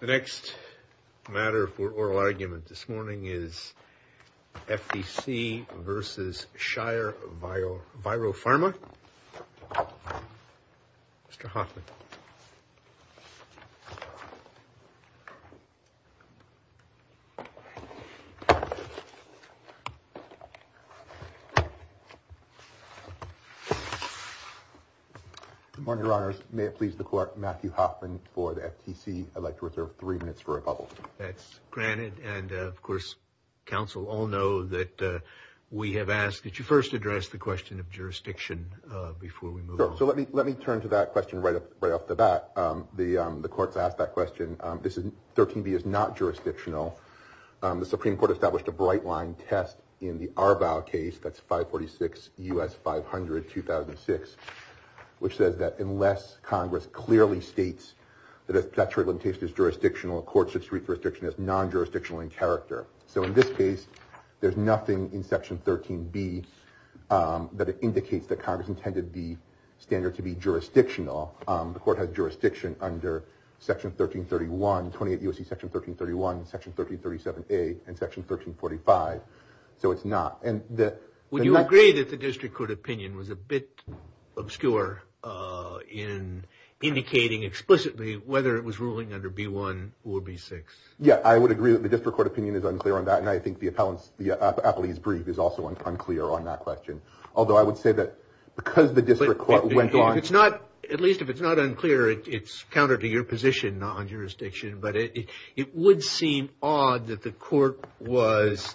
The next matter for oral argument this morning is FTC v. Shire Viropharma. Mr. Hoffman. Good morning, Your Honors. May it please the Court, Matthew Hoffman for the FTC. I'd like to reserve three minutes for a bubble. That's granted. And of course, counsel all know that we have asked that you first address the question of jurisdiction before we move on. Sure. So let me let me turn to that question right up right off the bat. The courts asked that question. This is 13b is not jurisdictional. The Supreme Court established a bright line test in the Arbaugh case. That's five forty six U.S. five hundred two thousand six, which says that unless Congress clearly states that that's really the case is jurisdictional, a court should treat jurisdiction as non-jurisdictional in character. So in this case, there's nothing in Section 13b that indicates that Congress intended the standard to be jurisdictional. The court has jurisdiction under Section 1331, 28 U.S.C. Section 1331, Section 1337A and Section 1345. So it's not. And would you agree that the district court opinion was a bit obscure in indicating explicitly whether it was ruling under B1 or B6? Yeah, I would agree that the district court opinion is unclear on that. And I think the appellate's brief is also unclear on that question. Although I would say that because the district court went on. It's not at least if it's not unclear, it's counter to your position on jurisdiction. But it would seem odd that the court was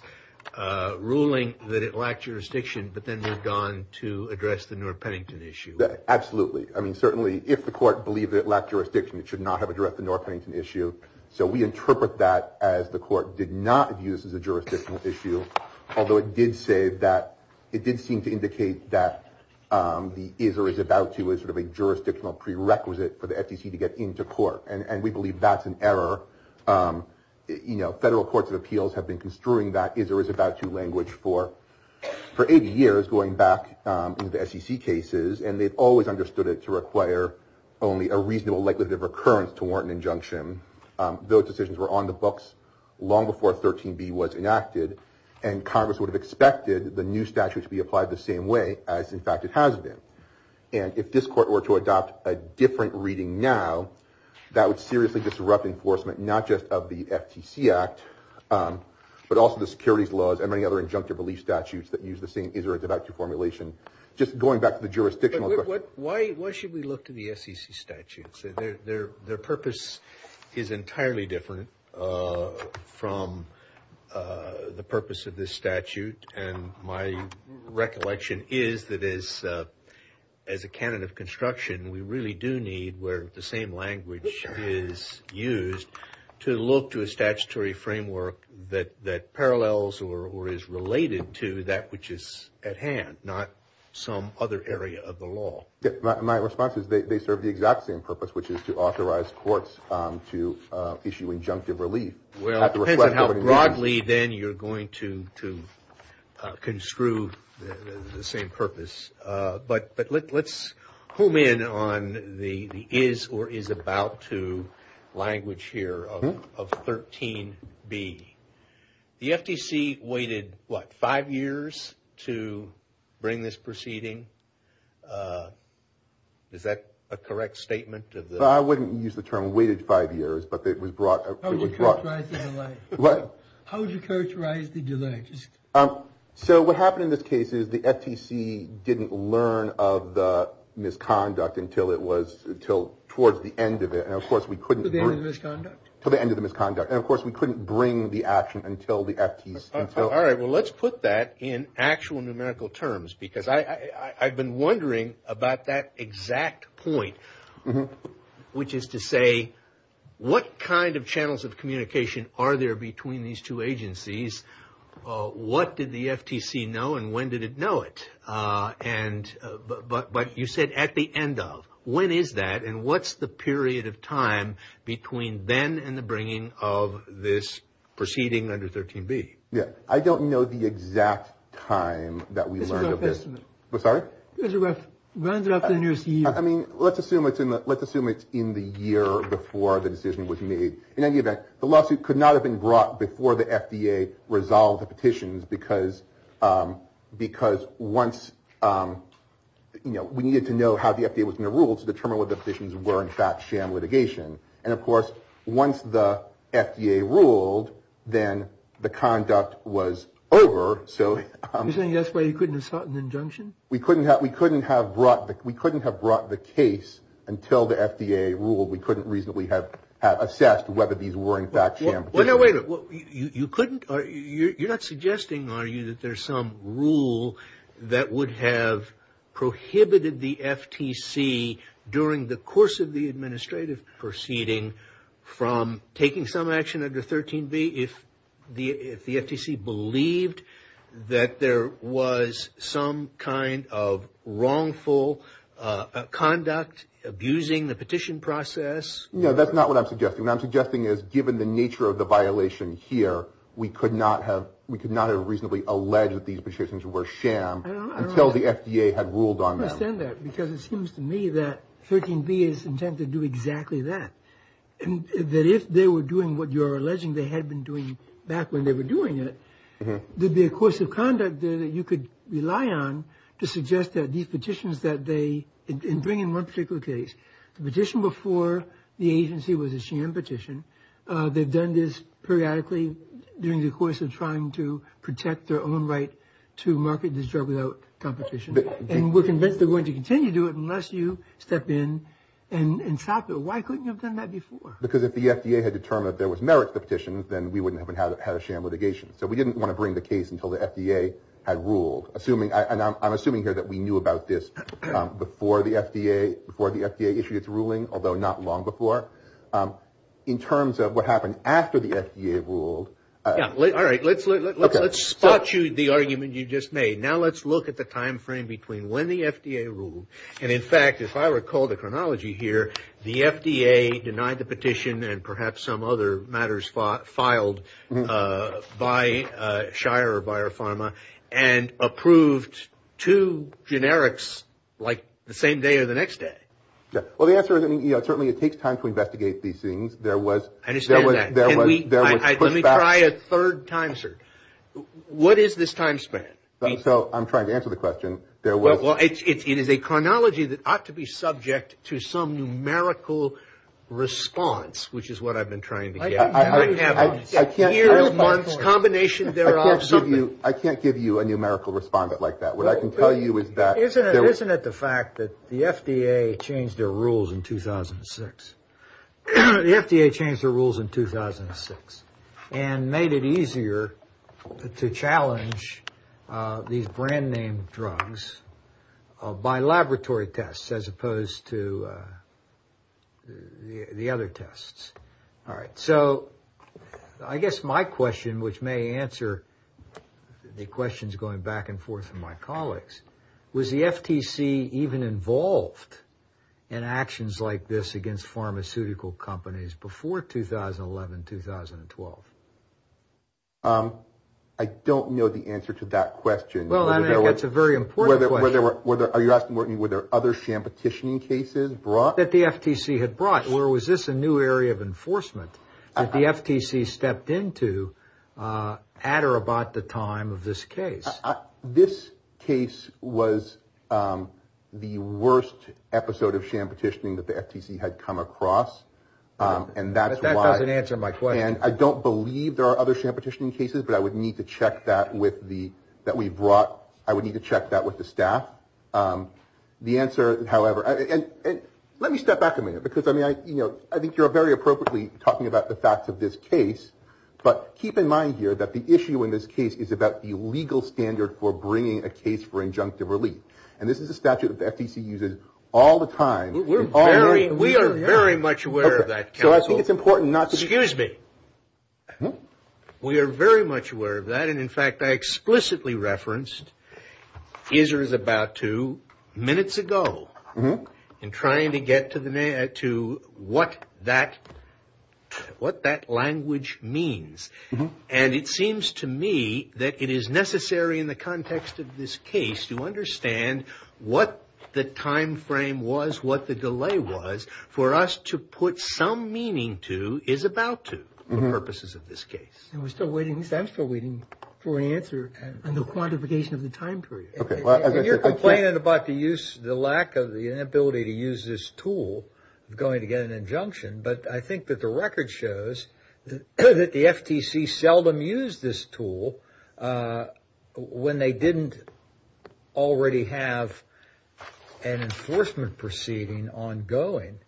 ruling that it lacked jurisdiction. But then they've gone to address the Newark-Pennington issue. Absolutely. I mean, certainly if the court believed it lacked jurisdiction, it should not have addressed the Newark-Pennington issue. So we interpret that as the court did not view this as a jurisdictional issue. Although it did say that it did seem to indicate that the is or is about to is sort of a jurisdictional prerequisite for the SEC to get into court. And we believe that's an error. You know, federal courts of appeals have been construing that is or is about to language for 80 years going back to the SEC cases. And they've always understood it to require only a reasonable likelihood of recurrence to warrant an injunction. Those decisions were on the books long before 13B was enacted. And Congress would have expected the new statute to be applied the same way as, in fact, it has been. And if this court were to adopt a different reading now, that would seriously disrupt enforcement, not just of the FTC Act, but also the securities laws and many other injunctive relief statutes that use the same is or is about to formulation. Just going back to the jurisdictional question. Why should we look to the SEC statutes? Their purpose is entirely different from the purpose of this statute. And my recollection is that as a canon of construction, we really do need where the same language is used to look to a statutory framework that parallels or is related to that which is at hand, not some other area of the law. My response is they serve the exact same purpose, which is to authorize courts to issue injunctive relief. Well, it depends on how broadly then you're going to construe the same purpose. But let's home in on the is or is about to language here of 13B. The FTC waited, what, five years to bring this proceeding? Is that a correct statement? I wouldn't use the term waited five years, but it was brought. How would you characterize the delay? So what happened in this case is the FTC didn't learn of the misconduct until it was towards the end of it. And, of course, we couldn't. To the end of the misconduct? And, of course, we couldn't bring the action until the FTC. All right. Well, let's put that in actual numerical terms because I've been wondering about that exact point, which is to say what kind of channels of communication are there between these two agencies? What did the FTC know and when did it know it? But you said at the end of. When is that? And what's the period of time between then and the bringing of this proceeding under 13B? Yeah. I don't know the exact time that we learned of this. It's a rough estimate. Sorry? It runs it up to the nearest year. I mean, let's assume it's in the year before the decision was made. In any event, the lawsuit could not have been brought before the FDA resolved the petitions because once, you know, we needed to know how the FDA was going to rule to determine whether the petitions were, in fact, sham litigation. And, of course, once the FDA ruled, then the conduct was over. You're saying that's why you couldn't have sought an injunction? We couldn't have brought the case until the FDA ruled. We couldn't reasonably have assessed whether these were, in fact, sham petitions. Well, no, wait a minute. You couldn't? You're not suggesting, are you, that there's some rule that would have prohibited the FTC during the course of the administrative proceeding from taking some action under 13B if the FTC believed that there was some kind of wrongful conduct abusing the petition process? No, that's not what I'm suggesting. What I'm suggesting is, given the nature of the violation here, we could not have reasonably alleged that these petitions were sham until the FDA had ruled on them. I don't understand that because it seems to me that 13B is intent to do exactly that and that if they were doing what you're alleging they had been doing back when they were doing it, there'd be a course of conduct there that you could rely on to suggest that these petitions that they bring in one particular case, the petition before the agency was a sham petition, they've done this periodically during the course of trying to protect their own right to market this drug without competition. And we're convinced they're going to continue to do it unless you step in and stop it. Why couldn't you have done that before? Because if the FDA had determined that there was merit to the petition, then we wouldn't have had a sham litigation. So we didn't want to bring the case until the FDA had ruled, and I'm assuming here that we knew about this before the FDA issued its ruling, although not long before. In terms of what happened after the FDA ruled. All right. Let's spot you the argument you just made. Now let's look at the time frame between when the FDA ruled, and in fact if I recall the chronology here, the FDA denied the petition and perhaps some other matters filed by Shire or Biopharma and approved two generics like the same day or the next day. Well, the answer is certainly it takes time to investigate these things. I understand that. Let me try a third time, sir. What is this time span? So I'm trying to answer the question. It is a chronology that ought to be subject to some numerical response, which is what I've been trying to get at. Years, months, combinations thereof. I can't give you a numerical response like that. What I can tell you is that. Isn't it the fact that the FDA changed their rules in 2006? The FDA changed their rules in 2006 and made it easier to challenge these brand-name drugs by laboratory tests as opposed to the other tests. All right. So I guess my question, which may answer the questions going back and forth from my colleagues, was the FTC even involved in actions like this against pharmaceutical companies before 2011, 2012? I don't know the answer to that question. Well, I think that's a very important question. Are you asking were there other sham petitioning cases brought? That the FTC had brought. Or was this a new area of enforcement that the FTC stepped into at or about the time of this case? This case was the worst episode of sham petitioning that the FTC had come across. But that doesn't answer my question. And I don't believe there are other sham petitioning cases, but I would need to check that with the staff. The answer, however, and let me step back a minute. Because, I mean, I think you're very appropriately talking about the facts of this case. But keep in mind here that the issue in this case is about the legal standard for bringing a case for injunctive relief. And this is a statute that the FTC uses all the time. We are very much aware of that, counsel. So I think it's important not to. Excuse me. We are very much aware of that. And, in fact, I explicitly referenced is or is about to minutes ago. In trying to get to what that language means. And it seems to me that it is necessary in the context of this case to understand what the time frame was, what the delay was. For us to put some meaning to is about to for purposes of this case. And we're still waiting for an answer on the quantification of the time period. You're complaining about the use, the lack of the ability to use this tool going to get an injunction. But I think that the record shows that the FTC seldom used this tool when they didn't already have an enforcement proceeding ongoing.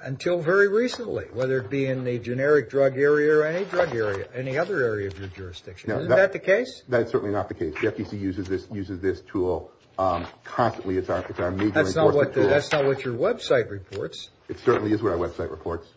Until very recently, whether it be in the generic drug area or any drug area, any other area of your jurisdiction. Is that the case? That is certainly not the case. The FTC uses this tool constantly. It's our major enforcement tool. That's not what your website reports. It certainly is what our website reports.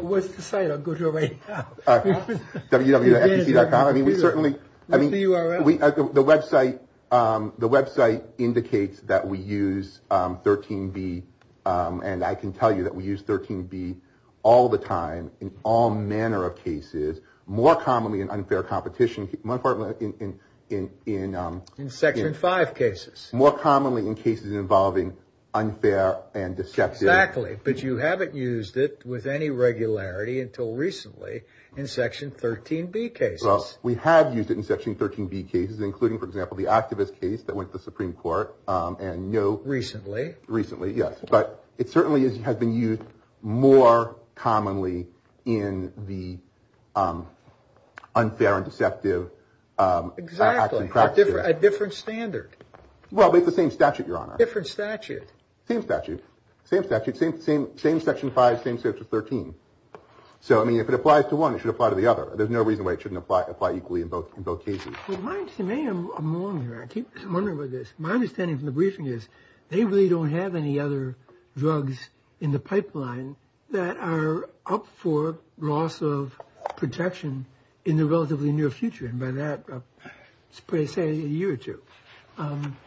What's the site? I'll go to it right now. www.ftc.gov. I mean, we certainly. What's the URL? The website indicates that we use 13B. And I can tell you that we use 13B all the time in all manner of cases. More commonly in unfair competition. In Section 5 cases. More commonly in cases involving unfair and deceptive. Exactly. But you haven't used it with any regularity until recently in Section 13B cases. Well, we have used it in Section 13B cases, including, for example, the activist case that went to the Supreme Court. Recently. Recently, yes. But it certainly has been used more commonly in the unfair and deceptive action practices. Exactly. A different standard. Well, it's the same statute, Your Honor. Different statute. Same statute. Same statute. Same Section 5, same Section 13. So, I mean, if it applies to one, it should apply to the other. There's no reason why it shouldn't apply equally in both cases. My understanding from the briefing is they really don't have any other drugs in the pipeline that are up for loss of protection in the relatively near future. And by that, let's say a year or two.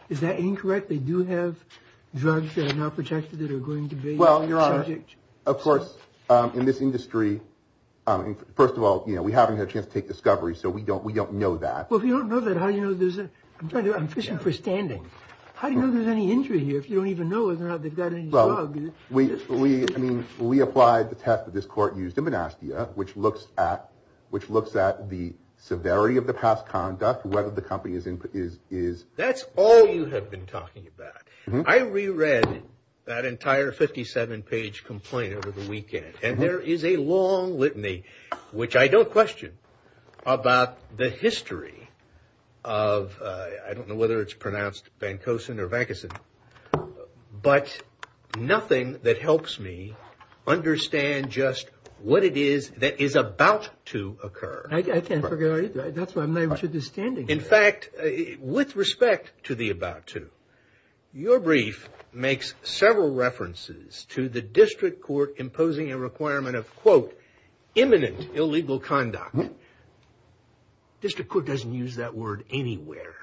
Is that incorrect? They do have drugs that are not protected that are going to be subject? Of course, in this industry, first of all, you know, we haven't had a chance to take discovery, so we don't know that. Well, if you don't know that, how do you know there's a, I'm trying to, I'm fishing for standing. How do you know there's any injury here if you don't even know whether or not they've got any drugs? Well, we, I mean, we applied the test that this court used in Monastia, which looks at the severity of the past conduct, whether the company is. That's all you have been talking about. I reread that entire 57 page complaint over the weekend. And there is a long litany, which I don't question about the history of. I don't know whether it's pronounced Van Cosen or vacancy, but nothing that helps me understand just what it is that is about to occur. I can't forget. In fact, with respect to the about to your brief makes several references to the district court imposing a requirement of, quote, imminent illegal conduct. District court doesn't use that word anywhere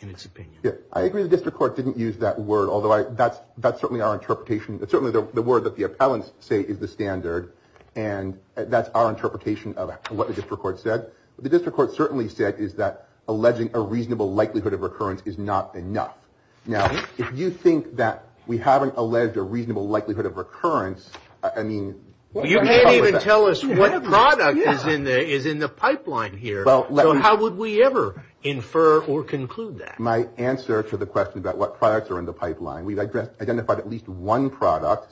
in its opinion. I agree. The district court didn't use that word, although that's that's certainly our interpretation. But certainly the word that the appellants say is the standard. And that's our interpretation of what the district court said. The district court certainly said is that alleging a reasonable likelihood of recurrence is not enough. Now, if you think that we haven't alleged a reasonable likelihood of recurrence. I mean, you can't even tell us what the product is in there is in the pipeline here. Well, how would we ever infer or conclude that my answer to the question about what products are in the pipeline? We've identified at least one product.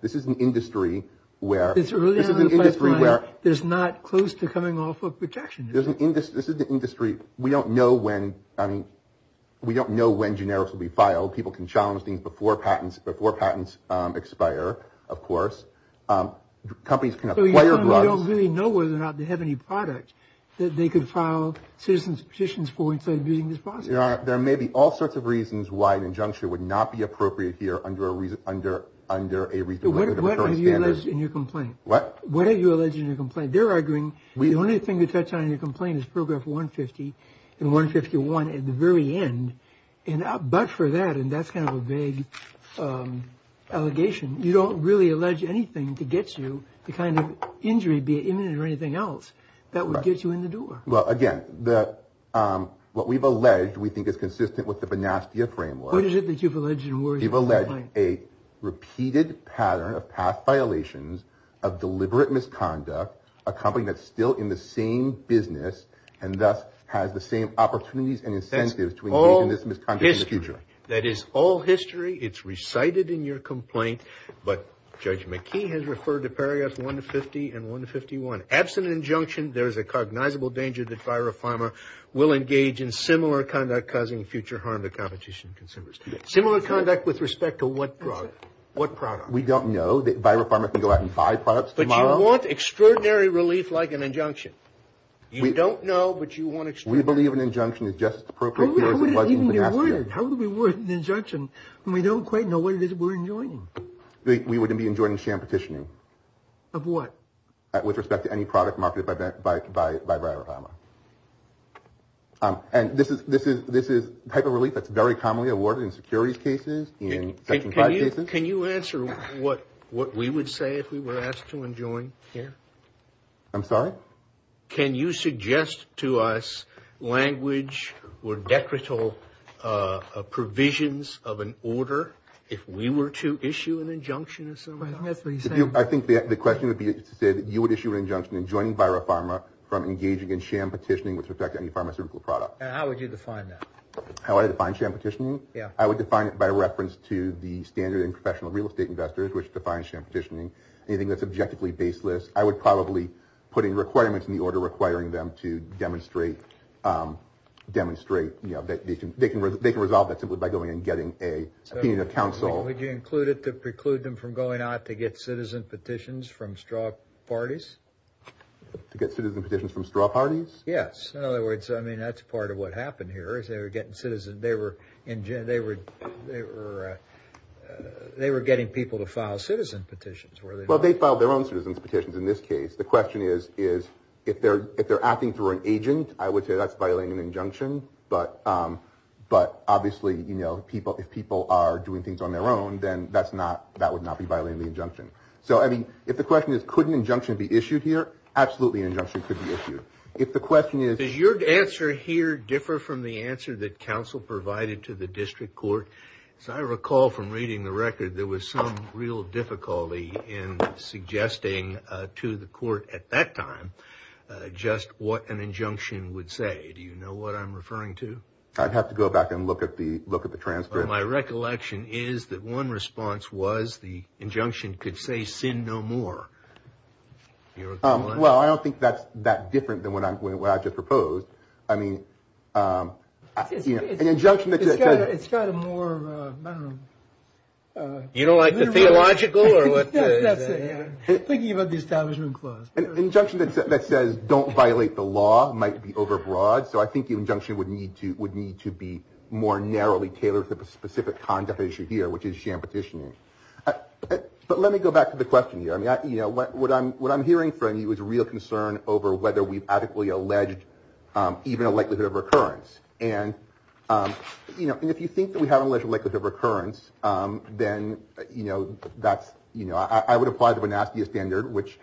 This is an industry where this is an industry where there's not close to coming off of protection. There's an industry. This is the industry. We don't know when. I mean, we don't know when generics will be filed. People can challenge things before patents, before patents expire. Of course, companies don't really know whether or not they have any product that they can file citizens petitions for. There may be all sorts of reasons why an injunction would not be appropriate here under a reason under under a reason. What are you alleged in your complaint? What are you alleged in your complaint? They're arguing the only thing you touch on in your complaint is program for 150 and 151 at the very end. And but for that, and that's kind of a vague allegation. You don't really allege anything to get you the kind of injury, be it imminent or anything else that would get you in the door. Well, again, the what we've alleged we think is consistent with the Banastia framework. What is it that you've alleged? You've alleged a repeated pattern of past violations of deliberate misconduct. A company that's still in the same business and thus has the same opportunities and incentives to all this misconduct is future. That is all history. It's recited in your complaint. But Judge McKee has referred to paragraphs 150 and 151. Absent injunction, there is a cognizable danger that viral pharma will engage in similar conduct, causing future harm to competition consumers. Similar conduct with respect to what product? What product? We don't know that viral pharma can go out and buy products tomorrow. But you want extraordinary relief like an injunction. We don't know, but you want it. We believe an injunction is just appropriate. How would we reward an injunction when we don't quite know what it is we're enjoying? We wouldn't be enjoying sham petitioning. Of what? With respect to any product marketed by by by viral pharma. And this is this is this is the type of relief that's very commonly awarded in securities cases. In fact, can you answer what what we would say if we were asked to enjoin? Yeah, I'm sorry. Can you suggest to us language or decretal provisions of an order if we were to issue an injunction? I think the question would be to say that you would issue an injunction in joining viral pharma from engaging in sham petitioning with respect to any pharmaceutical product. How would you define that? How I define sham petitioning? Yeah, I would define it by reference to the standard and professional real estate investors, which defines sham petitioning. Anything that's objectively baseless. I would probably put in requirements in the order requiring them to demonstrate, demonstrate that they can they can they can resolve that simply by going and getting a council. Would you include it to preclude them from going out to get citizen petitions from straw parties to get citizen petitions from straw parties? Yes. In other words, I mean, that's part of what happened here is they were getting citizen. They were in jail. They were they were they were getting people to file citizen petitions. Well, they filed their own citizens petitions in this case. The question is, is if they're if they're acting through an agent, I would say that's violating an injunction. But but obviously, you know, people if people are doing things on their own, then that's not that would not be violating the injunction. So, I mean, if the question is, could an injunction be issued here? Absolutely. An injunction could be issued. If the question is, is your answer here differ from the answer that counsel provided to the district court? So I recall from reading the record, there was some real difficulty in suggesting to the court at that time just what an injunction would say. Do you know what I'm referring to? I'd have to go back and look at the look at the transcript. My recollection is that one response was the injunction could say sin no more. Well, I don't think that's that different than what I just proposed. I mean, it's an injunction. It's got a more. You don't like the theological or what? Thinking about the establishment clause, an injunction that says don't violate the law might be overbroad. So I think the injunction would need to would need to be more narrowly tailored to the specific conduct issue here, which is sham petitioning. But let me go back to the question here. I mean, you know what? What I'm what I'm hearing from you is real concern over whether we've adequately alleged even a likelihood of recurrence. And, you know, if you think that we have a likelihood of recurrence, then, you know, that's you know, I would apply to a nasty standard, which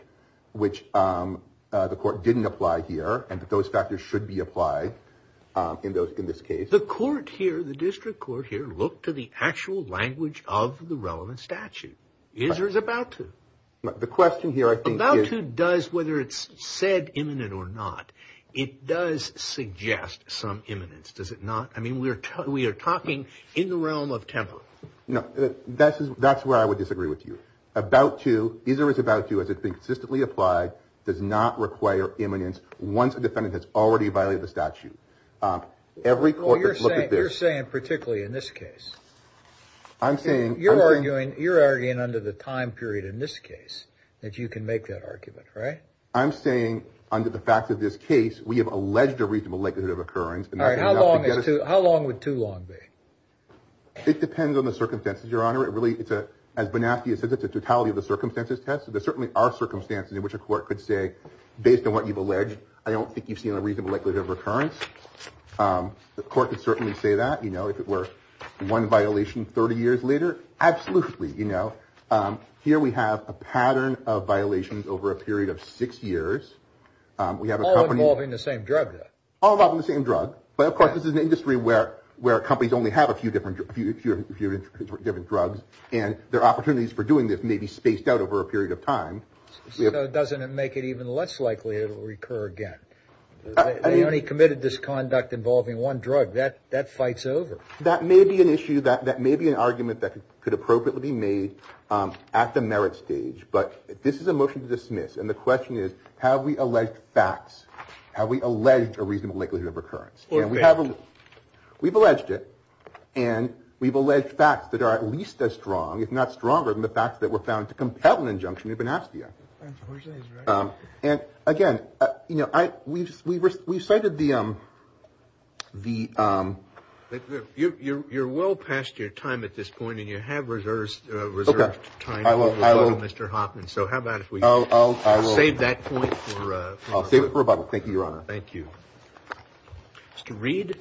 which the court didn't apply here. And those factors should be applied in those in this case. The court here, the district court here, look to the actual language of the relevant statute. The question here, I think, does, whether it's said imminent or not, it does suggest some imminence, does it not? I mean, we are we are talking in the realm of temper. No, that's that's where I would disagree with you about to either. It's about you as it's been consistently applied, does not require imminence. Once a defendant has already violated the statute, every court. You're saying particularly in this case. I'm saying you're arguing you're arguing under the time period in this case that you can make that argument. Right. I'm saying under the facts of this case, we have alleged a reasonable likelihood of occurrence. All right. How long is to how long would too long be? It depends on the circumstances, Your Honor. It really it's a as Banaski has said, it's a totality of the circumstances test. There certainly are circumstances in which a court could say, based on what you've alleged, I don't think you've seen a reasonable likelihood of recurrence. The court would certainly say that, you know, if it were one violation 30 years later. Absolutely. You know, here we have a pattern of violations over a period of six years. We have all involving the same drug, all of the same drug. But of course, this is an industry where where companies only have a few different few different drugs. And their opportunities for doing this may be spaced out over a period of time. It doesn't make it even less likely to recur again. They only committed this conduct involving one drug that that fights over. That may be an issue that that may be an argument that could appropriately be made at the merit stage. But this is a motion to dismiss. And the question is, have we alleged facts? Have we alleged a reasonable likelihood of recurrence? We've alleged it and we've alleged facts that are at least as strong, if not stronger than the facts that were found to compel an injunction. We've been asked here. And again, you know, I we've we've we've cited the the you're well past your time at this point. And you have reserves reserved time. Mr. Hoffman. So how about if we all say that? Thank you, Your Honor. Thank you, Mr. Reed.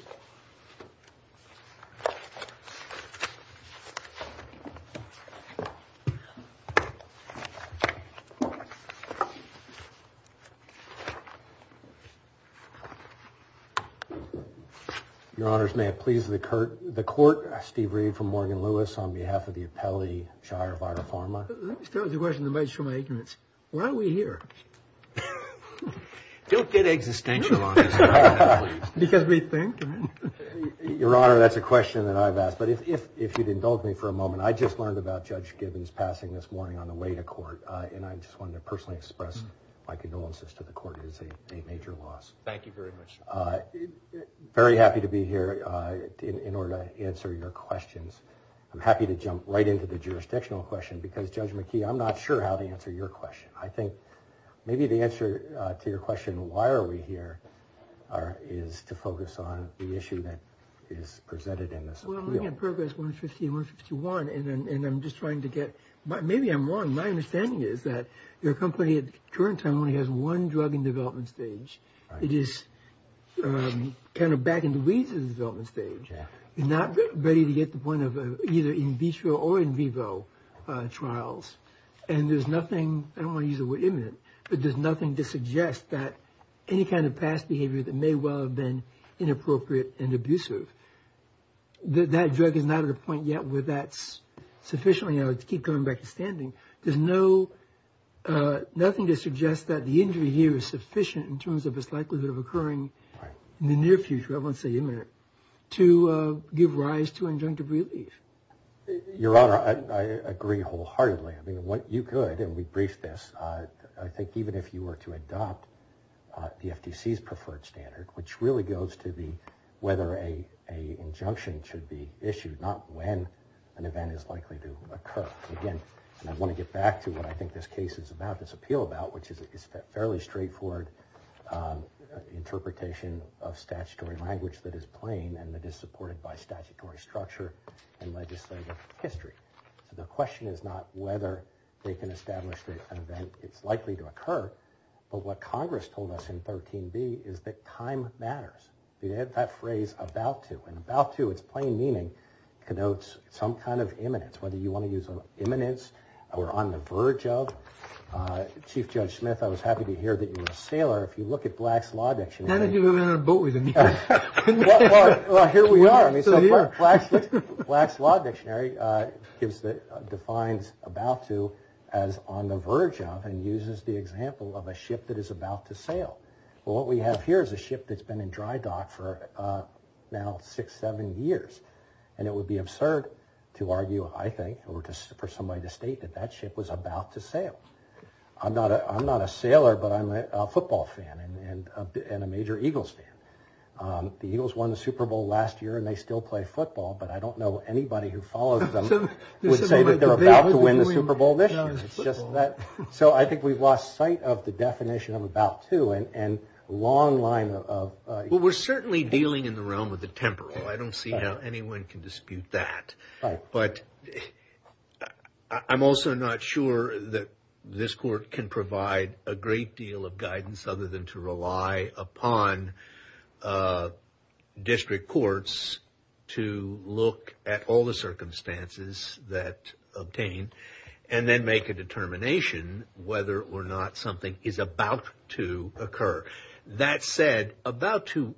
Your honors, may it please the court, the court. Steve Reed from Morgan Lewis on behalf of the appellee. Let me start with a question that might show my ignorance. Why are we here? Don't get existential on because we think your honor. That's a question that I've asked. But if if you'd indulge me for a moment, I just learned about Judge Gibbons passing this morning on the way to court. And I just wanted to personally express my condolences to the court. It is a major loss. Thank you very much. Very happy to be here in order to answer your questions. I'm happy to jump right into the jurisdictional question because Judge McKee, I'm not sure how to answer your question. I think maybe the answer to your question, why are we here? Our is to focus on the issue that is presented in this program. One fifty one fifty one. And I'm just trying to get my maybe I'm wrong. My understanding is that your company at the current time only has one drug in development stage. It is kind of back in the weeds of the development stage. Not ready to get the point of either in vitro or in vivo trials. And there's nothing I don't want to use the word imminent. But there's nothing to suggest that any kind of past behavior that may well have been inappropriate and abusive. That drug is not at a point yet where that's sufficiently to keep coming back to standing. There's no nothing to suggest that the injury here is sufficient in terms of its likelihood of occurring in the near future. I won't say imminent to give rise to injunctive relief. Your Honor, I agree wholeheartedly. I mean, what you could and we briefed this. I think even if you were to adopt the FTC's preferred standard, which really goes to the whether a a injunction should be issued, not when an event is likely to occur again. And I want to get back to what I think this case is about, this appeal about, which is a fairly straightforward interpretation of statutory language that is plain and that is supported by statutory structure and legislative history. The question is not whether they can establish that an event is likely to occur. But what Congress told us in 13b is that time matters. They had that phrase about to and about to its plain meaning connotes some kind of imminence. Whether you want to use an imminence or on the verge of. Chief Judge Smith, I was happy to hear that you were a sailor. If you look at Black's Law Dictionary. Here we are. Black's Law Dictionary defines about to as on the verge of and uses the example of a ship that is about to sail. What we have here is a ship that's been in dry dock for now six, seven years. And it would be absurd to argue, I think, or for somebody to state that that ship was about to sail. I'm not a sailor, but I'm a football fan and a major Eagles fan. The Eagles won the Super Bowl last year and they still play football. But I don't know anybody who follows them would say that they're about to win the Super Bowl this year. It's just that. So I think we've lost sight of the definition of about to and long line of. Well, we're certainly dealing in the realm of the temporal. I don't see how anyone can dispute that. But I'm also not sure that this court can provide a great deal of guidance other than to rely upon district courts to look at all the circumstances that obtain. And then make a determination whether or not something is about to occur. That said, about to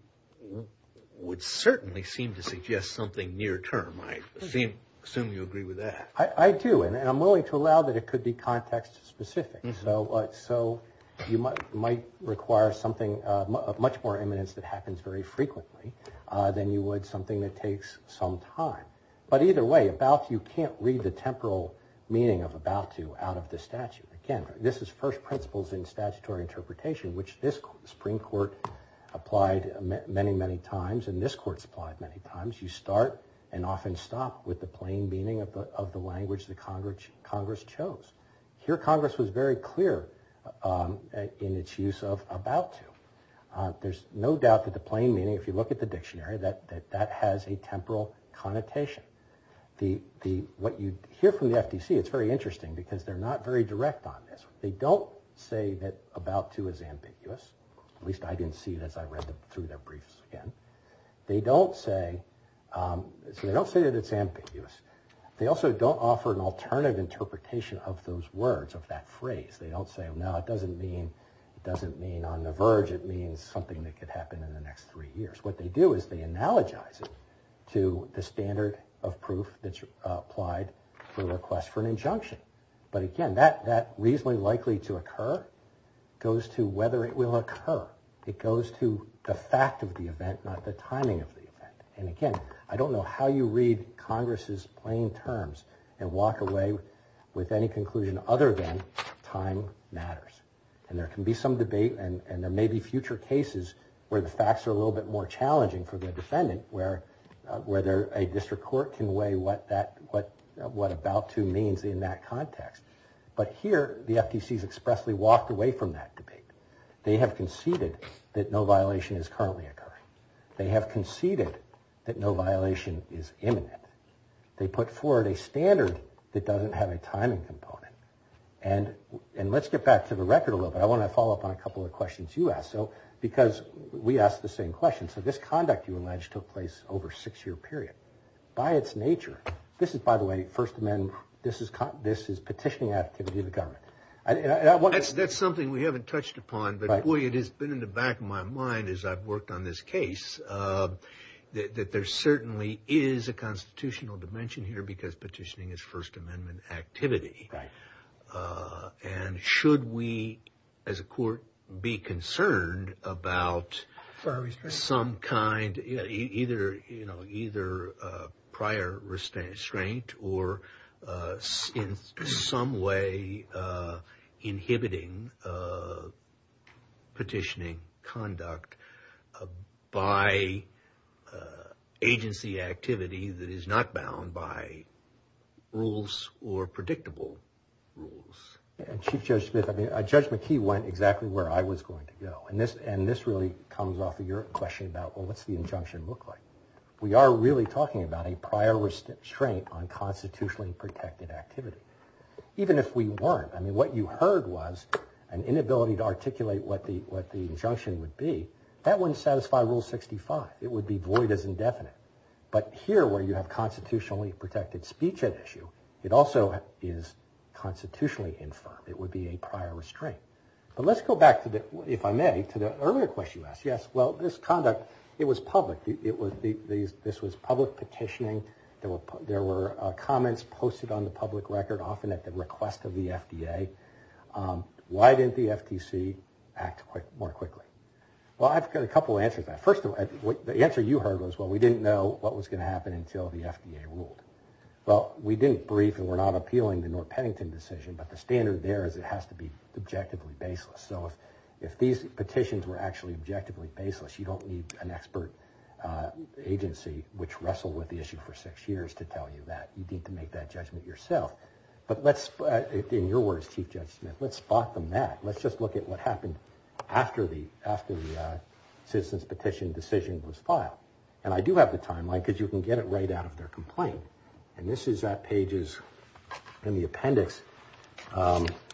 would certainly seem to suggest something near term. I assume you agree with that. I do. And I'm willing to allow that it could be context specific. So you might require something of much more eminence that happens very frequently than you would something that takes some time. But either way, about you can't read the temporal meaning of about to out of the statute. Again, this is first principles in statutory interpretation, which this Supreme Court applied many, many times. And this court's applied many times. You start and often stop with the plain meaning of the language the Congress chose. Here, Congress was very clear in its use of about to. There's no doubt that the plain meaning, if you look at the dictionary, that that has a temporal connotation. What you hear from the FTC, it's very interesting because they're not very direct on this. They don't say that about to is ambiguous. At least I didn't see it as I read through their briefs again. They don't say that it's ambiguous. They also don't offer an alternative interpretation of those words, of that phrase. They don't say, no, it doesn't mean on the verge. It means something that could happen in the next three years. What they do is they analogize it to the standard of proof that's applied for the request for an injunction. But again, that reasonably likely to occur goes to whether it will occur. It goes to the fact of the event, not the timing of the event. And again, I don't know how you read Congress's plain terms and walk away with any conclusion other than time matters. And there can be some debate and there may be future cases where the facts are a little bit more challenging for the defendant, where a district court can weigh what about to means in that context. But here, the FTC has expressly walked away from that debate. They have conceded that no violation is currently occurring. They have conceded that no violation is imminent. They put forward a standard that doesn't have a timing component. And let's get back to the record a little bit. I want to follow up on a couple of questions you asked. Because we asked the same question. So this conduct, you allege, took place over a six-year period. By its nature, this is, by the way, First Amendment. This is petitioning activity of the government. That's something we haven't touched upon. But, boy, it has been in the back of my mind as I've worked on this case that there certainly is a constitutional dimension here because petitioning is First Amendment activity. And should we, as a court, be concerned about some kind, either prior restraint or in some way inhibiting petitioning conduct by agency activity that is not bound by rules or predictable rules? Chief Judge Smith, Judge McKee went exactly where I was going to go. And this really comes off of your question about, well, what's the injunction look like? We are really talking about a prior restraint on constitutionally protected activity, even if we weren't. I mean, what you heard was an inability to articulate what the injunction would be. That wouldn't satisfy Rule 65. It would be void as indefinite. But here, where you have constitutionally protected speech at issue, it also is constitutionally infirm. It would be a prior restraint. But let's go back, if I may, to the earlier question you asked. Yes, well, this conduct, it was public. This was public petitioning. There were comments posted on the public record, often at the request of the FDA. Why didn't the FTC act more quickly? Well, I've got a couple answers to that. First, the answer you heard was, well, we didn't know what was going to happen until the FDA ruled. Well, we didn't brief and we're not appealing the North Pennington decision, but the standard there is it has to be objectively baseless. So if these petitions were actually objectively baseless, you don't need an expert agency, which wrestled with the issue for six years, to tell you that. You need to make that judgment yourself. But let's, in your words, Chief Judge Smith, let's spot them that. Let's just look at what happened after the citizen's petition decision was filed. And I do have the timeline because you can get it right out of their complaint. And this is at pages, in the appendix,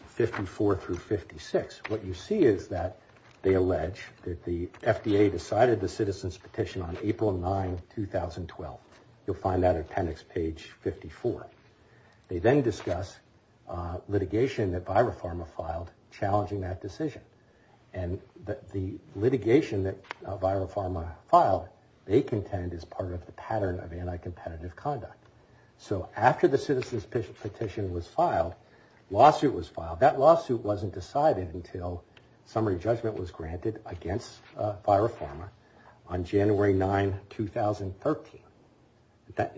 54 through 56. What you see is that they allege that the FDA decided the citizen's petition on April 9, 2012. You'll find that at appendix page 54. They then discuss litigation that Viropharma filed challenging that decision. And the litigation that Viropharma filed, they contend, is part of the pattern of anti-competitive conduct. So after the citizen's petition was filed, lawsuit was filed. That lawsuit wasn't decided until summary judgment was granted against Viropharma on January 9, 2013.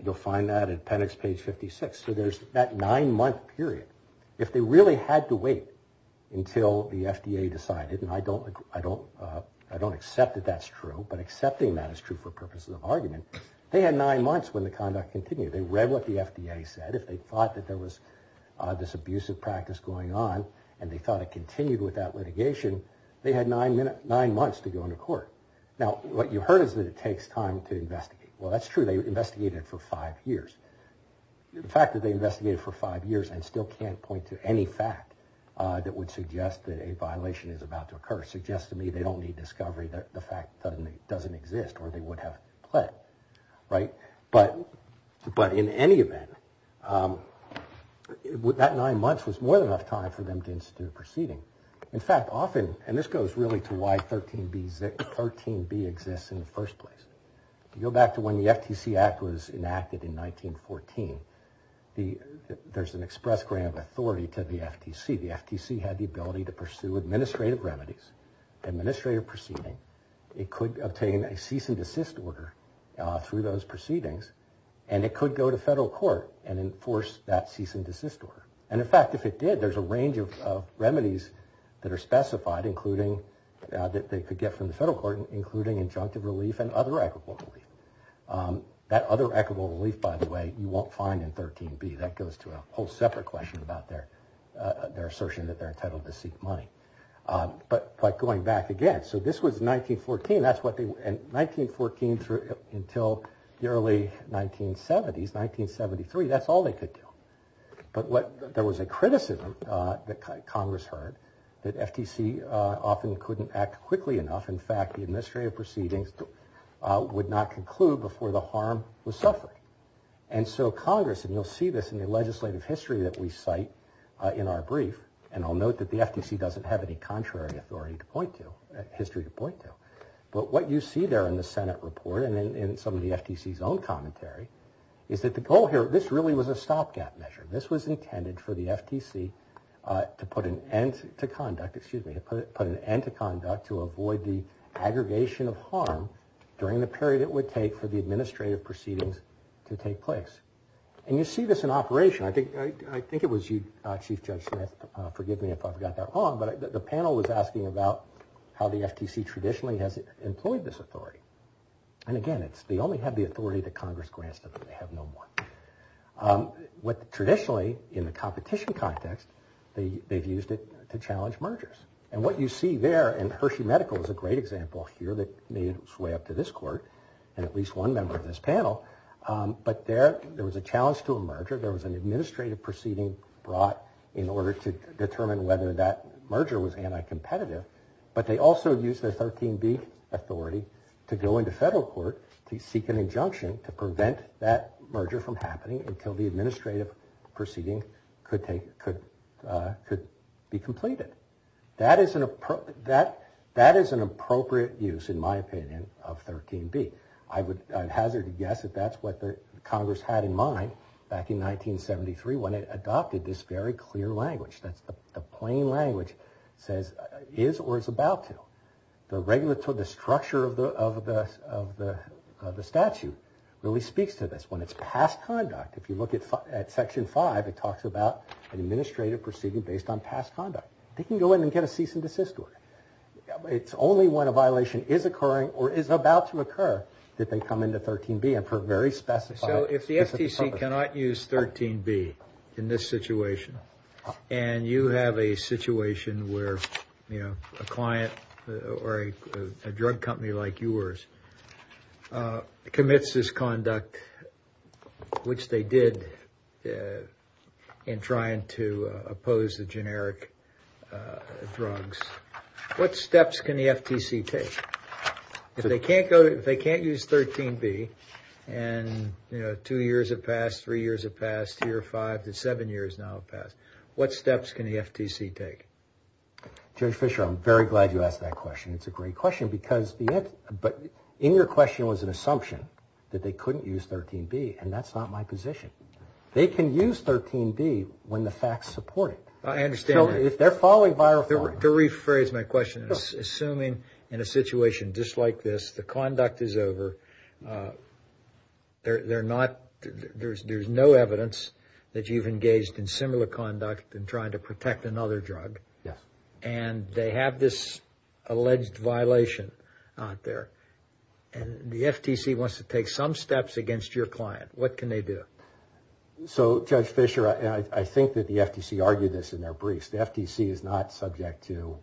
You'll find that at appendix page 56. So there's that nine-month period. If they really had to wait until the FDA decided, and I don't accept that that's true, but accepting that is true for purposes of argument, they had nine months when the conduct continued. They read what the FDA said. If they thought that there was this abusive practice going on and they thought it continued with that litigation, they had nine months to go into court. Now, what you heard is that it takes time to investigate. Well, that's true. They investigated for five years. The fact that they investigated for five years and still can't point to any fact that would suggest that a violation is about to occur suggests to me they don't need discovery, that the fact doesn't exist, or they would have pled. But in any event, that nine months was more than enough time for them to institute a proceeding. In fact, often, and this goes really to why 13B exists in the first place, you go back to when the FTC Act was enacted in 1914, there's an express grant of authority to the FTC. The FTC had the ability to pursue administrative remedies, administrative proceeding. It could obtain a cease and desist order through those proceedings, and it could go to federal court and enforce that cease and desist order. And, in fact, if it did, there's a range of remedies that are specified, including that they could get from the federal court, including injunctive relief and other equitable relief. That other equitable relief, by the way, you won't find in 13B. That goes to a whole separate question about their assertion that they're entitled to seek money. But going back again, so this was 1914. And 1914 until the early 1970s, 1973, that's all they could do. But there was a criticism that Congress heard that FTC often couldn't act quickly enough. In fact, the administrative proceedings would not conclude before the harm was suffered. And so Congress, and you'll see this in the legislative history that we cite in our brief, and I'll note that the FTC doesn't have any contrary authority to point to, history to point to. But what you see there in the Senate report and in some of the FTC's own commentary is that the goal here, this really was a stopgap measure. This was intended for the FTC to put an end to conduct, excuse me, to put an end to conduct to avoid the aggregation of harm during the period it would take for the administrative proceedings to take place. And you see this in operation. I think it was you, Chief Judge Smith, forgive me if I've got that wrong, but the panel was asking about how the FTC traditionally has employed this authority. And again, they only have the authority that Congress grants to them. They have no more. Traditionally, in the competition context, they've used it to challenge mergers. And what you see there in Hershey Medical is a great example here that made its way up to this court and at least one member of this panel. But there was a challenge to a merger. There was an administrative proceeding brought in order to determine whether that merger was anti-competitive. But they also used the 13B authority to go into federal court to seek an injunction to prevent that merger from happening until the administrative proceeding could be completed. That is an appropriate use, in my opinion, of 13B. I would hazard a guess that that's what Congress had in mind back in 1973 when it adopted this very clear language. The plain language says, is or is about to. The structure of the statute really speaks to this. When it's past conduct, if you look at Section 5, it talks about an administrative proceeding based on past conduct. They can go in and get a cease and desist order. It's only when a violation is occurring or is about to occur that they come into 13B and for a very specified purpose. So if the FTC cannot use 13B in this situation, and you have a situation where a client or a drug company like yours commits this conduct, which they did in trying to oppose the generic drugs, what steps can the FTC take? If they can't use 13B and two years have passed, three years have passed, two or five to seven years now have passed, what steps can the FTC take? Judge Fischer, I'm very glad you asked that question. It's a great question. But in your question was an assumption that they couldn't use 13B, and that's not my position. They can use 13B when the facts support it. I understand that. If they're following viral form. To rephrase my question, assuming in a situation just like this, the conduct is over, there's no evidence that you've engaged in similar conduct in trying to protect another drug, and they have this alleged violation out there, and the FTC wants to take some steps against your client, what can they do? So, Judge Fischer, I think that the FTC argued this in their briefs. The FTC is not subject to,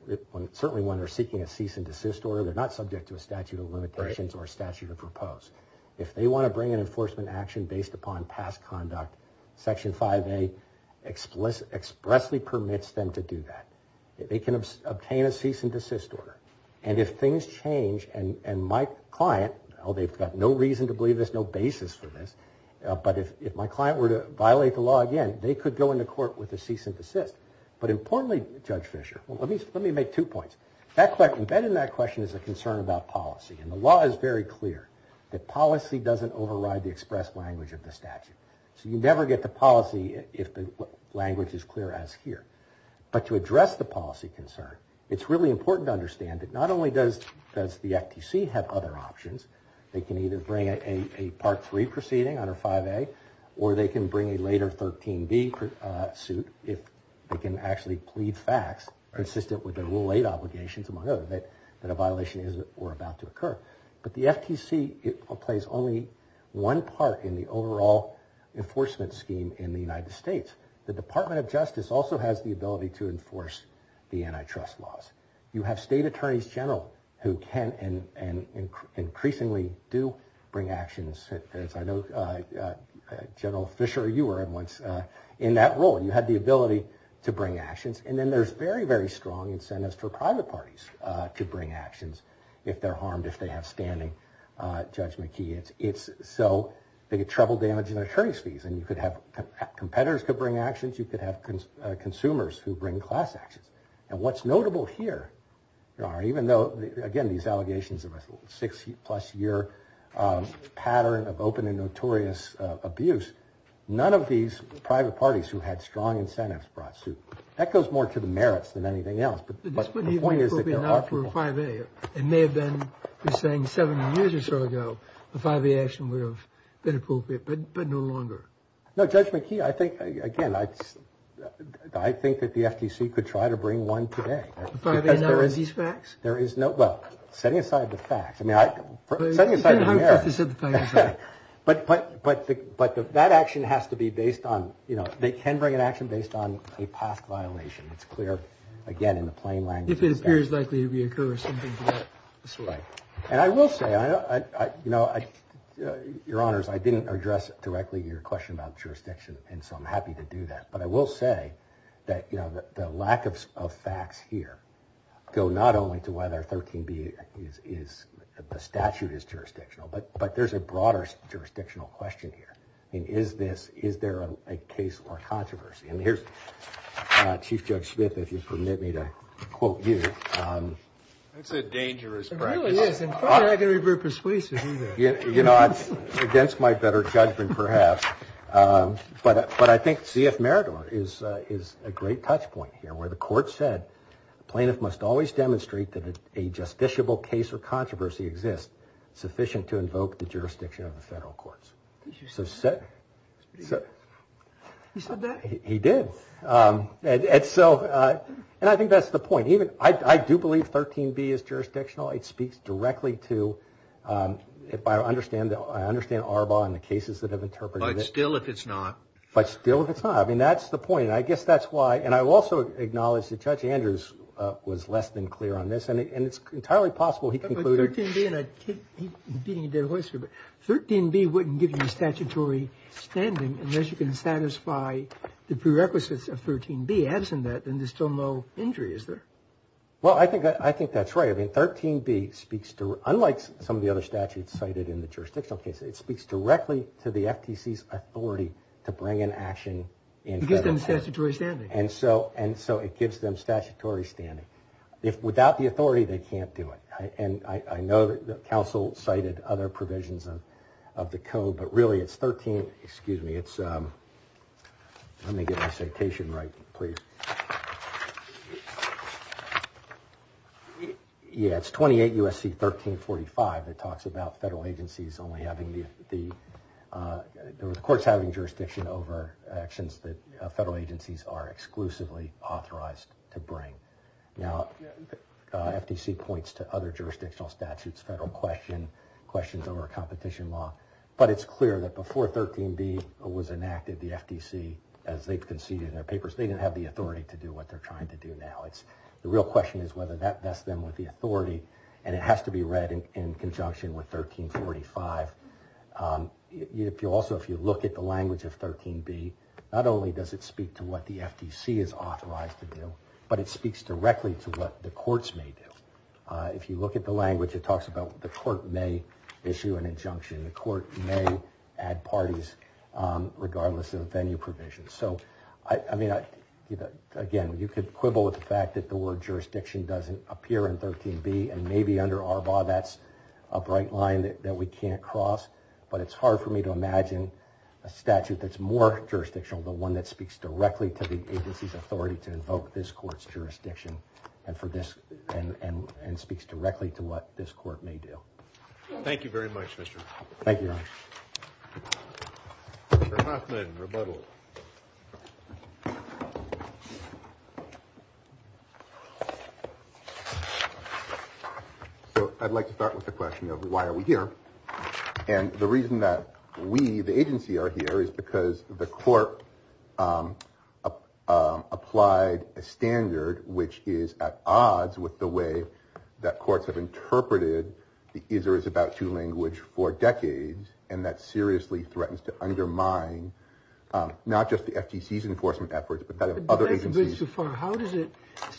certainly when they're seeking a cease and desist order, they're not subject to a statute of limitations or a statute of repose. If they want to bring an enforcement action based upon past conduct, Section 5A expressly permits them to do that. They can obtain a cease and desist order. And if things change, and my client, they've got no reason to believe this, no basis for this, but if my client were to violate the law again, they could go into court with a cease and desist. But importantly, Judge Fischer, let me make two points. Embedded in that question is a concern about policy, and the law is very clear that policy doesn't override the express language of the statute. So you never get the policy if the language is clear as here. But to address the policy concern, it's really important to understand that not only does the FTC have other options, they can either bring a Part 3 proceeding under 5A, or they can bring a later 13B suit if they can actually plead facts, consistent with their Rule 8 obligations, among others, that a violation is or about to occur. But the FTC plays only one part in the overall enforcement scheme in the United States. The Department of Justice also has the ability to enforce the antitrust laws. You have state attorneys general who can and increasingly do bring actions. As I know, General Fischer, you were at once in that role. You had the ability to bring actions. And then there's very, very strong incentives for private parties to bring actions if they're harmed, if they have standing. Judge McKee, it's so they get trouble damaging their attorney's fees. And you could have competitors could bring actions. You could have consumers who bring class actions. And what's notable here, even though, again, these allegations of a six-plus-year pattern of open and notorious abuse, none of these private parties who had strong incentives brought suit. That goes more to the merits than anything else. But the point is that there are people. But this wouldn't even be appropriate now for a 5A. It may have been, you're saying, seven years or so ago, a 5A action would have been appropriate, but no longer. No, Judge McKee, I think, again, I think that the FTC could try to bring one today. A 5A now is these facts? There is no – well, setting aside the facts. I mean, setting aside the merits. You can't hope that they set the facts up. But that action has to be based on – they can bring an action based on a past violation. It's clear, again, in the plain language of the statute. If it appears likely to reoccur or something of that sort. Right. And I will say, you know, Your Honors, I didn't address directly your question about jurisdiction, and so I'm happy to do that. But I will say that, you know, the lack of facts here go not only to whether 13B is – the statute is jurisdictional, but there's a broader jurisdictional question here. I mean, is this – is there a case or controversy? And here's Chief Judge Smith, if you'll permit me to quote you. That's a dangerous practice. It really is, and probably not going to be very persuasive, either. You know, it's against my better judgment, perhaps. But I think Z.F. Meridor is a great touchpoint here, where the court said, a plaintiff must always demonstrate that a justiciable case or controversy exists sufficient to invoke the jurisdiction of the federal courts. Did you say that? You said that? He did. And so – and I think that's the point. Even – I do believe 13B is jurisdictional. It speaks directly to – if I understand – I understand ARBA and the cases that have interpreted it. But still, if it's not. But still, if it's not. I mean, that's the point, and I guess that's why – and I will also acknowledge that Judge Andrews was less than clear on this, and it's entirely possible he concluded – But 13B – and I can't – he didn't, he didn't whisper, but 13B wouldn't give you statutory standing unless you can satisfy the prerequisites of 13B. Absent that, then there's still no injury, is there? Well, I think that's right. I mean, 13B speaks to – unlike some of the other statutes cited in the jurisdictional case, it speaks directly to the FTC's authority to bring an action in federal court. It gives them statutory standing. And so it gives them statutory standing. Without the authority, they can't do it. And I know that counsel cited other provisions of the code, but really it's 13 – excuse me, it's – let me get my citation right, please. Yeah, it's 28 U.S.C. 1345 that talks about federal agencies only having the – the courts having jurisdiction over actions that federal agencies are exclusively authorized to bring. Now, FTC points to other jurisdictional statutes, federal question, questions over a competition law, but it's clear that before 13B was enacted, the FTC, as they've conceded in their papers, they didn't have the authority to do what they're trying to do now. It's – the real question is whether that vests them with the authority, and it has to be read in conjunction with 1345. If you also – if you look at the language of 13B, not only does it speak to what the FTC is authorized to do, but it speaks directly to what the courts may do. If you look at the language, it talks about the court may issue an injunction. The court may add parties regardless of venue provisions. So, I mean, again, you could quibble with the fact that the word jurisdiction doesn't appear in 13B, and maybe under ARBA that's a bright line that we can't cross, but it's hard for me to imagine a statute that's more jurisdictional than one that speaks directly to the agency's authority to invoke this court's jurisdiction and for this – and speaks directly to what this court may do. Thank you very much, Mr. Thank you, Your Honor. Mr. Hoffman, rebuttal. So, I'd like to start with the question of why are we here. And the reason that we, the agency, are here is because the court applied a standard which is at odds with the way that courts have interpreted the is-or-is-about-to language for decades, and that seriously threatens to undermine not just the FTC's enforcement efforts, but that of other agencies. But that's a bit too far. How does it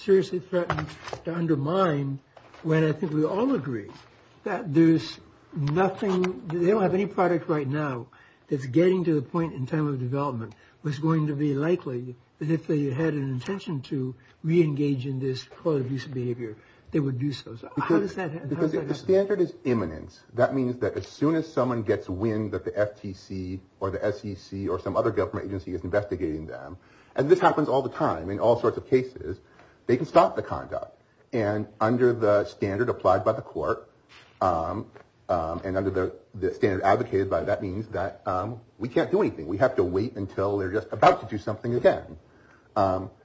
seriously threaten to undermine when I think we all agree that there's nothing – they don't have any product right now that's getting to the point in time of development where it's going to be likely that if they had an intention to re-engage in this call-to-abuse behavior, they would do so. How does that happen? Because if the standard is imminent, that means that as soon as someone gets wind that the FTC or the SEC or some other government agency is investigating them – and this happens all the time in all sorts of cases – they can stop the conduct. And under the standard applied by the court, and under the standard advocated by, that means that we can't do anything. We have to wait until they're just about to do something again.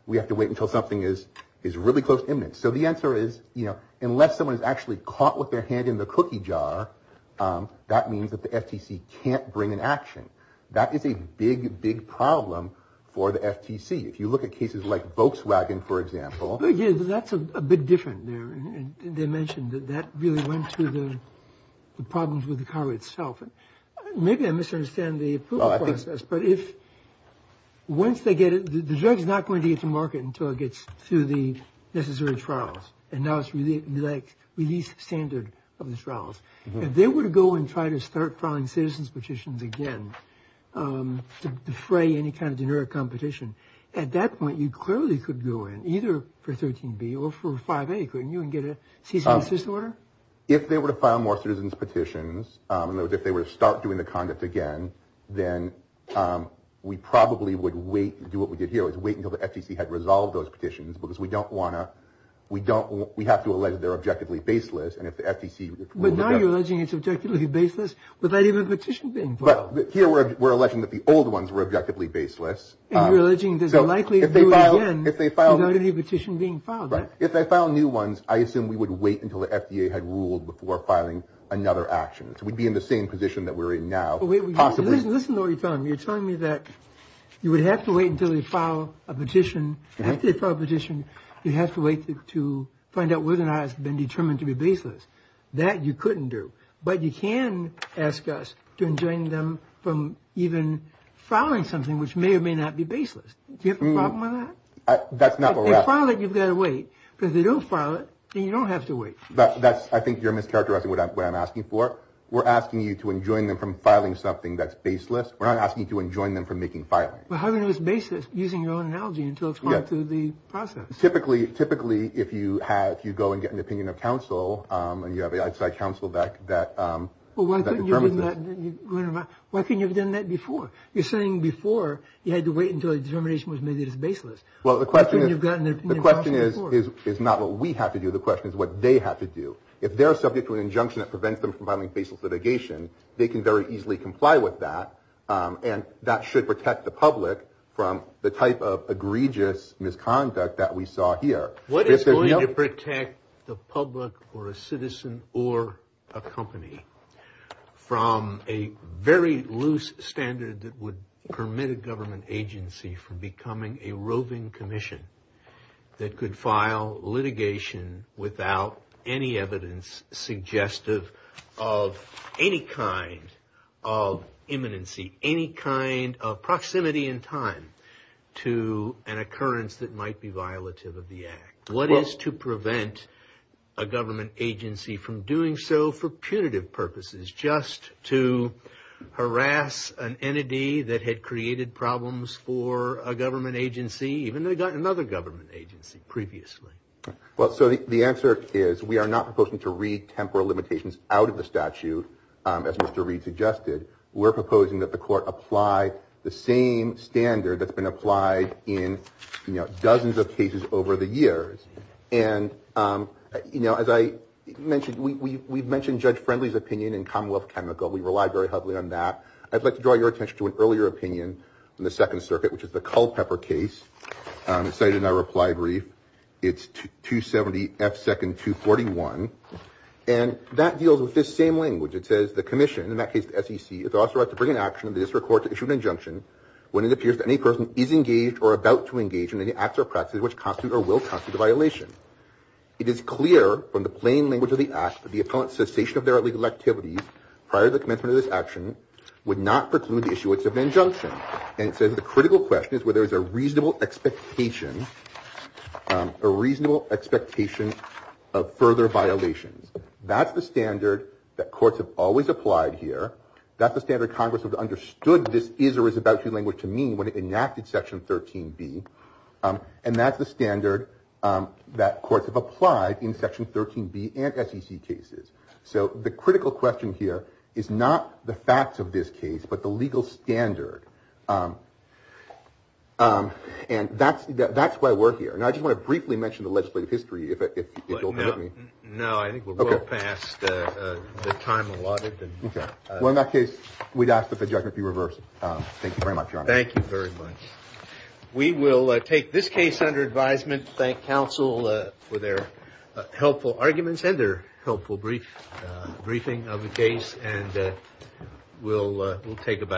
We have to wait until something is really close to imminent. So the answer is, you know, unless someone is actually caught with their hand in the cookie jar, that means that the FTC can't bring an action. That is a big, big problem for the FTC. If you look at cases like Volkswagen, for example. Yeah, that's a bit different there. They mentioned that that really went to the problems with the car itself. Maybe I misunderstand the approval process, but if once they get it – the drug is not going to get to market until it gets through the necessary trials, and now it's released standard of the trials. If they were to go and try to start filing citizens' petitions again to defray any kind of generic competition, at that point you clearly could go in either for 13B or for 5A, couldn't you, and get a cease and desist order? If they were to file more citizens' petitions, in other words, if they were to start doing the conduct again, then we probably would wait and do what we did here, which is wait until the FTC had resolved those petitions because we don't want to – we have to allege they're objectively baseless, and if the FTC – No, but here we're alleging that the old ones were objectively baseless. And you're alleging there's a likelihood they would do it again without any petition being filed, right? If they filed new ones, I assume we would wait until the FDA had ruled before filing another action. So we'd be in the same position that we're in now. Listen to what you're telling me. You're telling me that you would have to wait until they file a petition. After they file a petition, you have to wait to find out whether or not it's been determined to be baseless. That you couldn't do. But you can ask us to enjoin them from even filing something which may or may not be baseless. Do you have a problem with that? That's not what we're asking. If they file it, you've got to wait. Because if they don't file it, then you don't have to wait. I think you're mischaracterizing what I'm asking for. We're asking you to enjoin them from filing something that's baseless. We're not asking you to enjoin them from making filing. Well, how do you know it's baseless using your own analogy until it's gone through the process? Typically, if you go and get an opinion of counsel, and you have an outside counsel that determines this. Why couldn't you have done that before? You're saying before you had to wait until the determination was made that it's baseless. Well, the question is not what we have to do. The question is what they have to do. If they're subject to an injunction that prevents them from filing baseless litigation, they can very easily comply with that, and that should protect the public from the type of egregious misconduct that we saw here. What is going to protect the public or a citizen or a company from a very loose standard that would permit a government agency from becoming a roving commission that could file litigation without any evidence suggestive of any kind of imminency, any kind of proximity in time to an occurrence that might be violative of the act? What is to prevent a government agency from doing so for punitive purposes, just to harass an entity that had created problems for a government agency, even though they got another government agency previously? Well, so the answer is we are not proposing to read temporal limitations out of the statute, as Mr. Reed suggested. We're proposing that the court apply the same standard that's been applied in dozens of cases over the years. And, you know, as I mentioned, we've mentioned Judge Friendly's opinion in Commonwealth Chemical. We rely very heavily on that. I'd like to draw your attention to an earlier opinion in the Second Circuit, which is the Culpepper case. It's cited in our reply brief. It's 270 F. Second 241. And that deals with this same language. It says the commission, in that case the SEC, is authorized to bring an action in the district court to issue an injunction when it appears that any person is engaged or about to engage in any acts or practices which constitute or will constitute a violation. It is clear from the plain language of the act that the appellant's cessation of their legal activities prior to the commencement of this action would not preclude the issuance of an injunction. And it says that the critical question is whether there is a reasonable expectation of further violations. That's the standard that courts have always applied here. That's the standard Congress has understood this is or is about to language to mean when it enacted Section 13B. And that's the standard that courts have applied in Section 13B and SEC cases. So the critical question here is not the facts of this case, but the legal standard. And that's why we're here. And I just want to briefly mention the legislative history. No, I think we're well past the time allotted. Okay. Well, in that case, we'd ask that the judgment be reversed. Thank you very much, Your Honor. Thank you very much. We will take this case under advisement. Thank counsel for their helpful arguments and their helpful briefing of the case. And we'll take it back.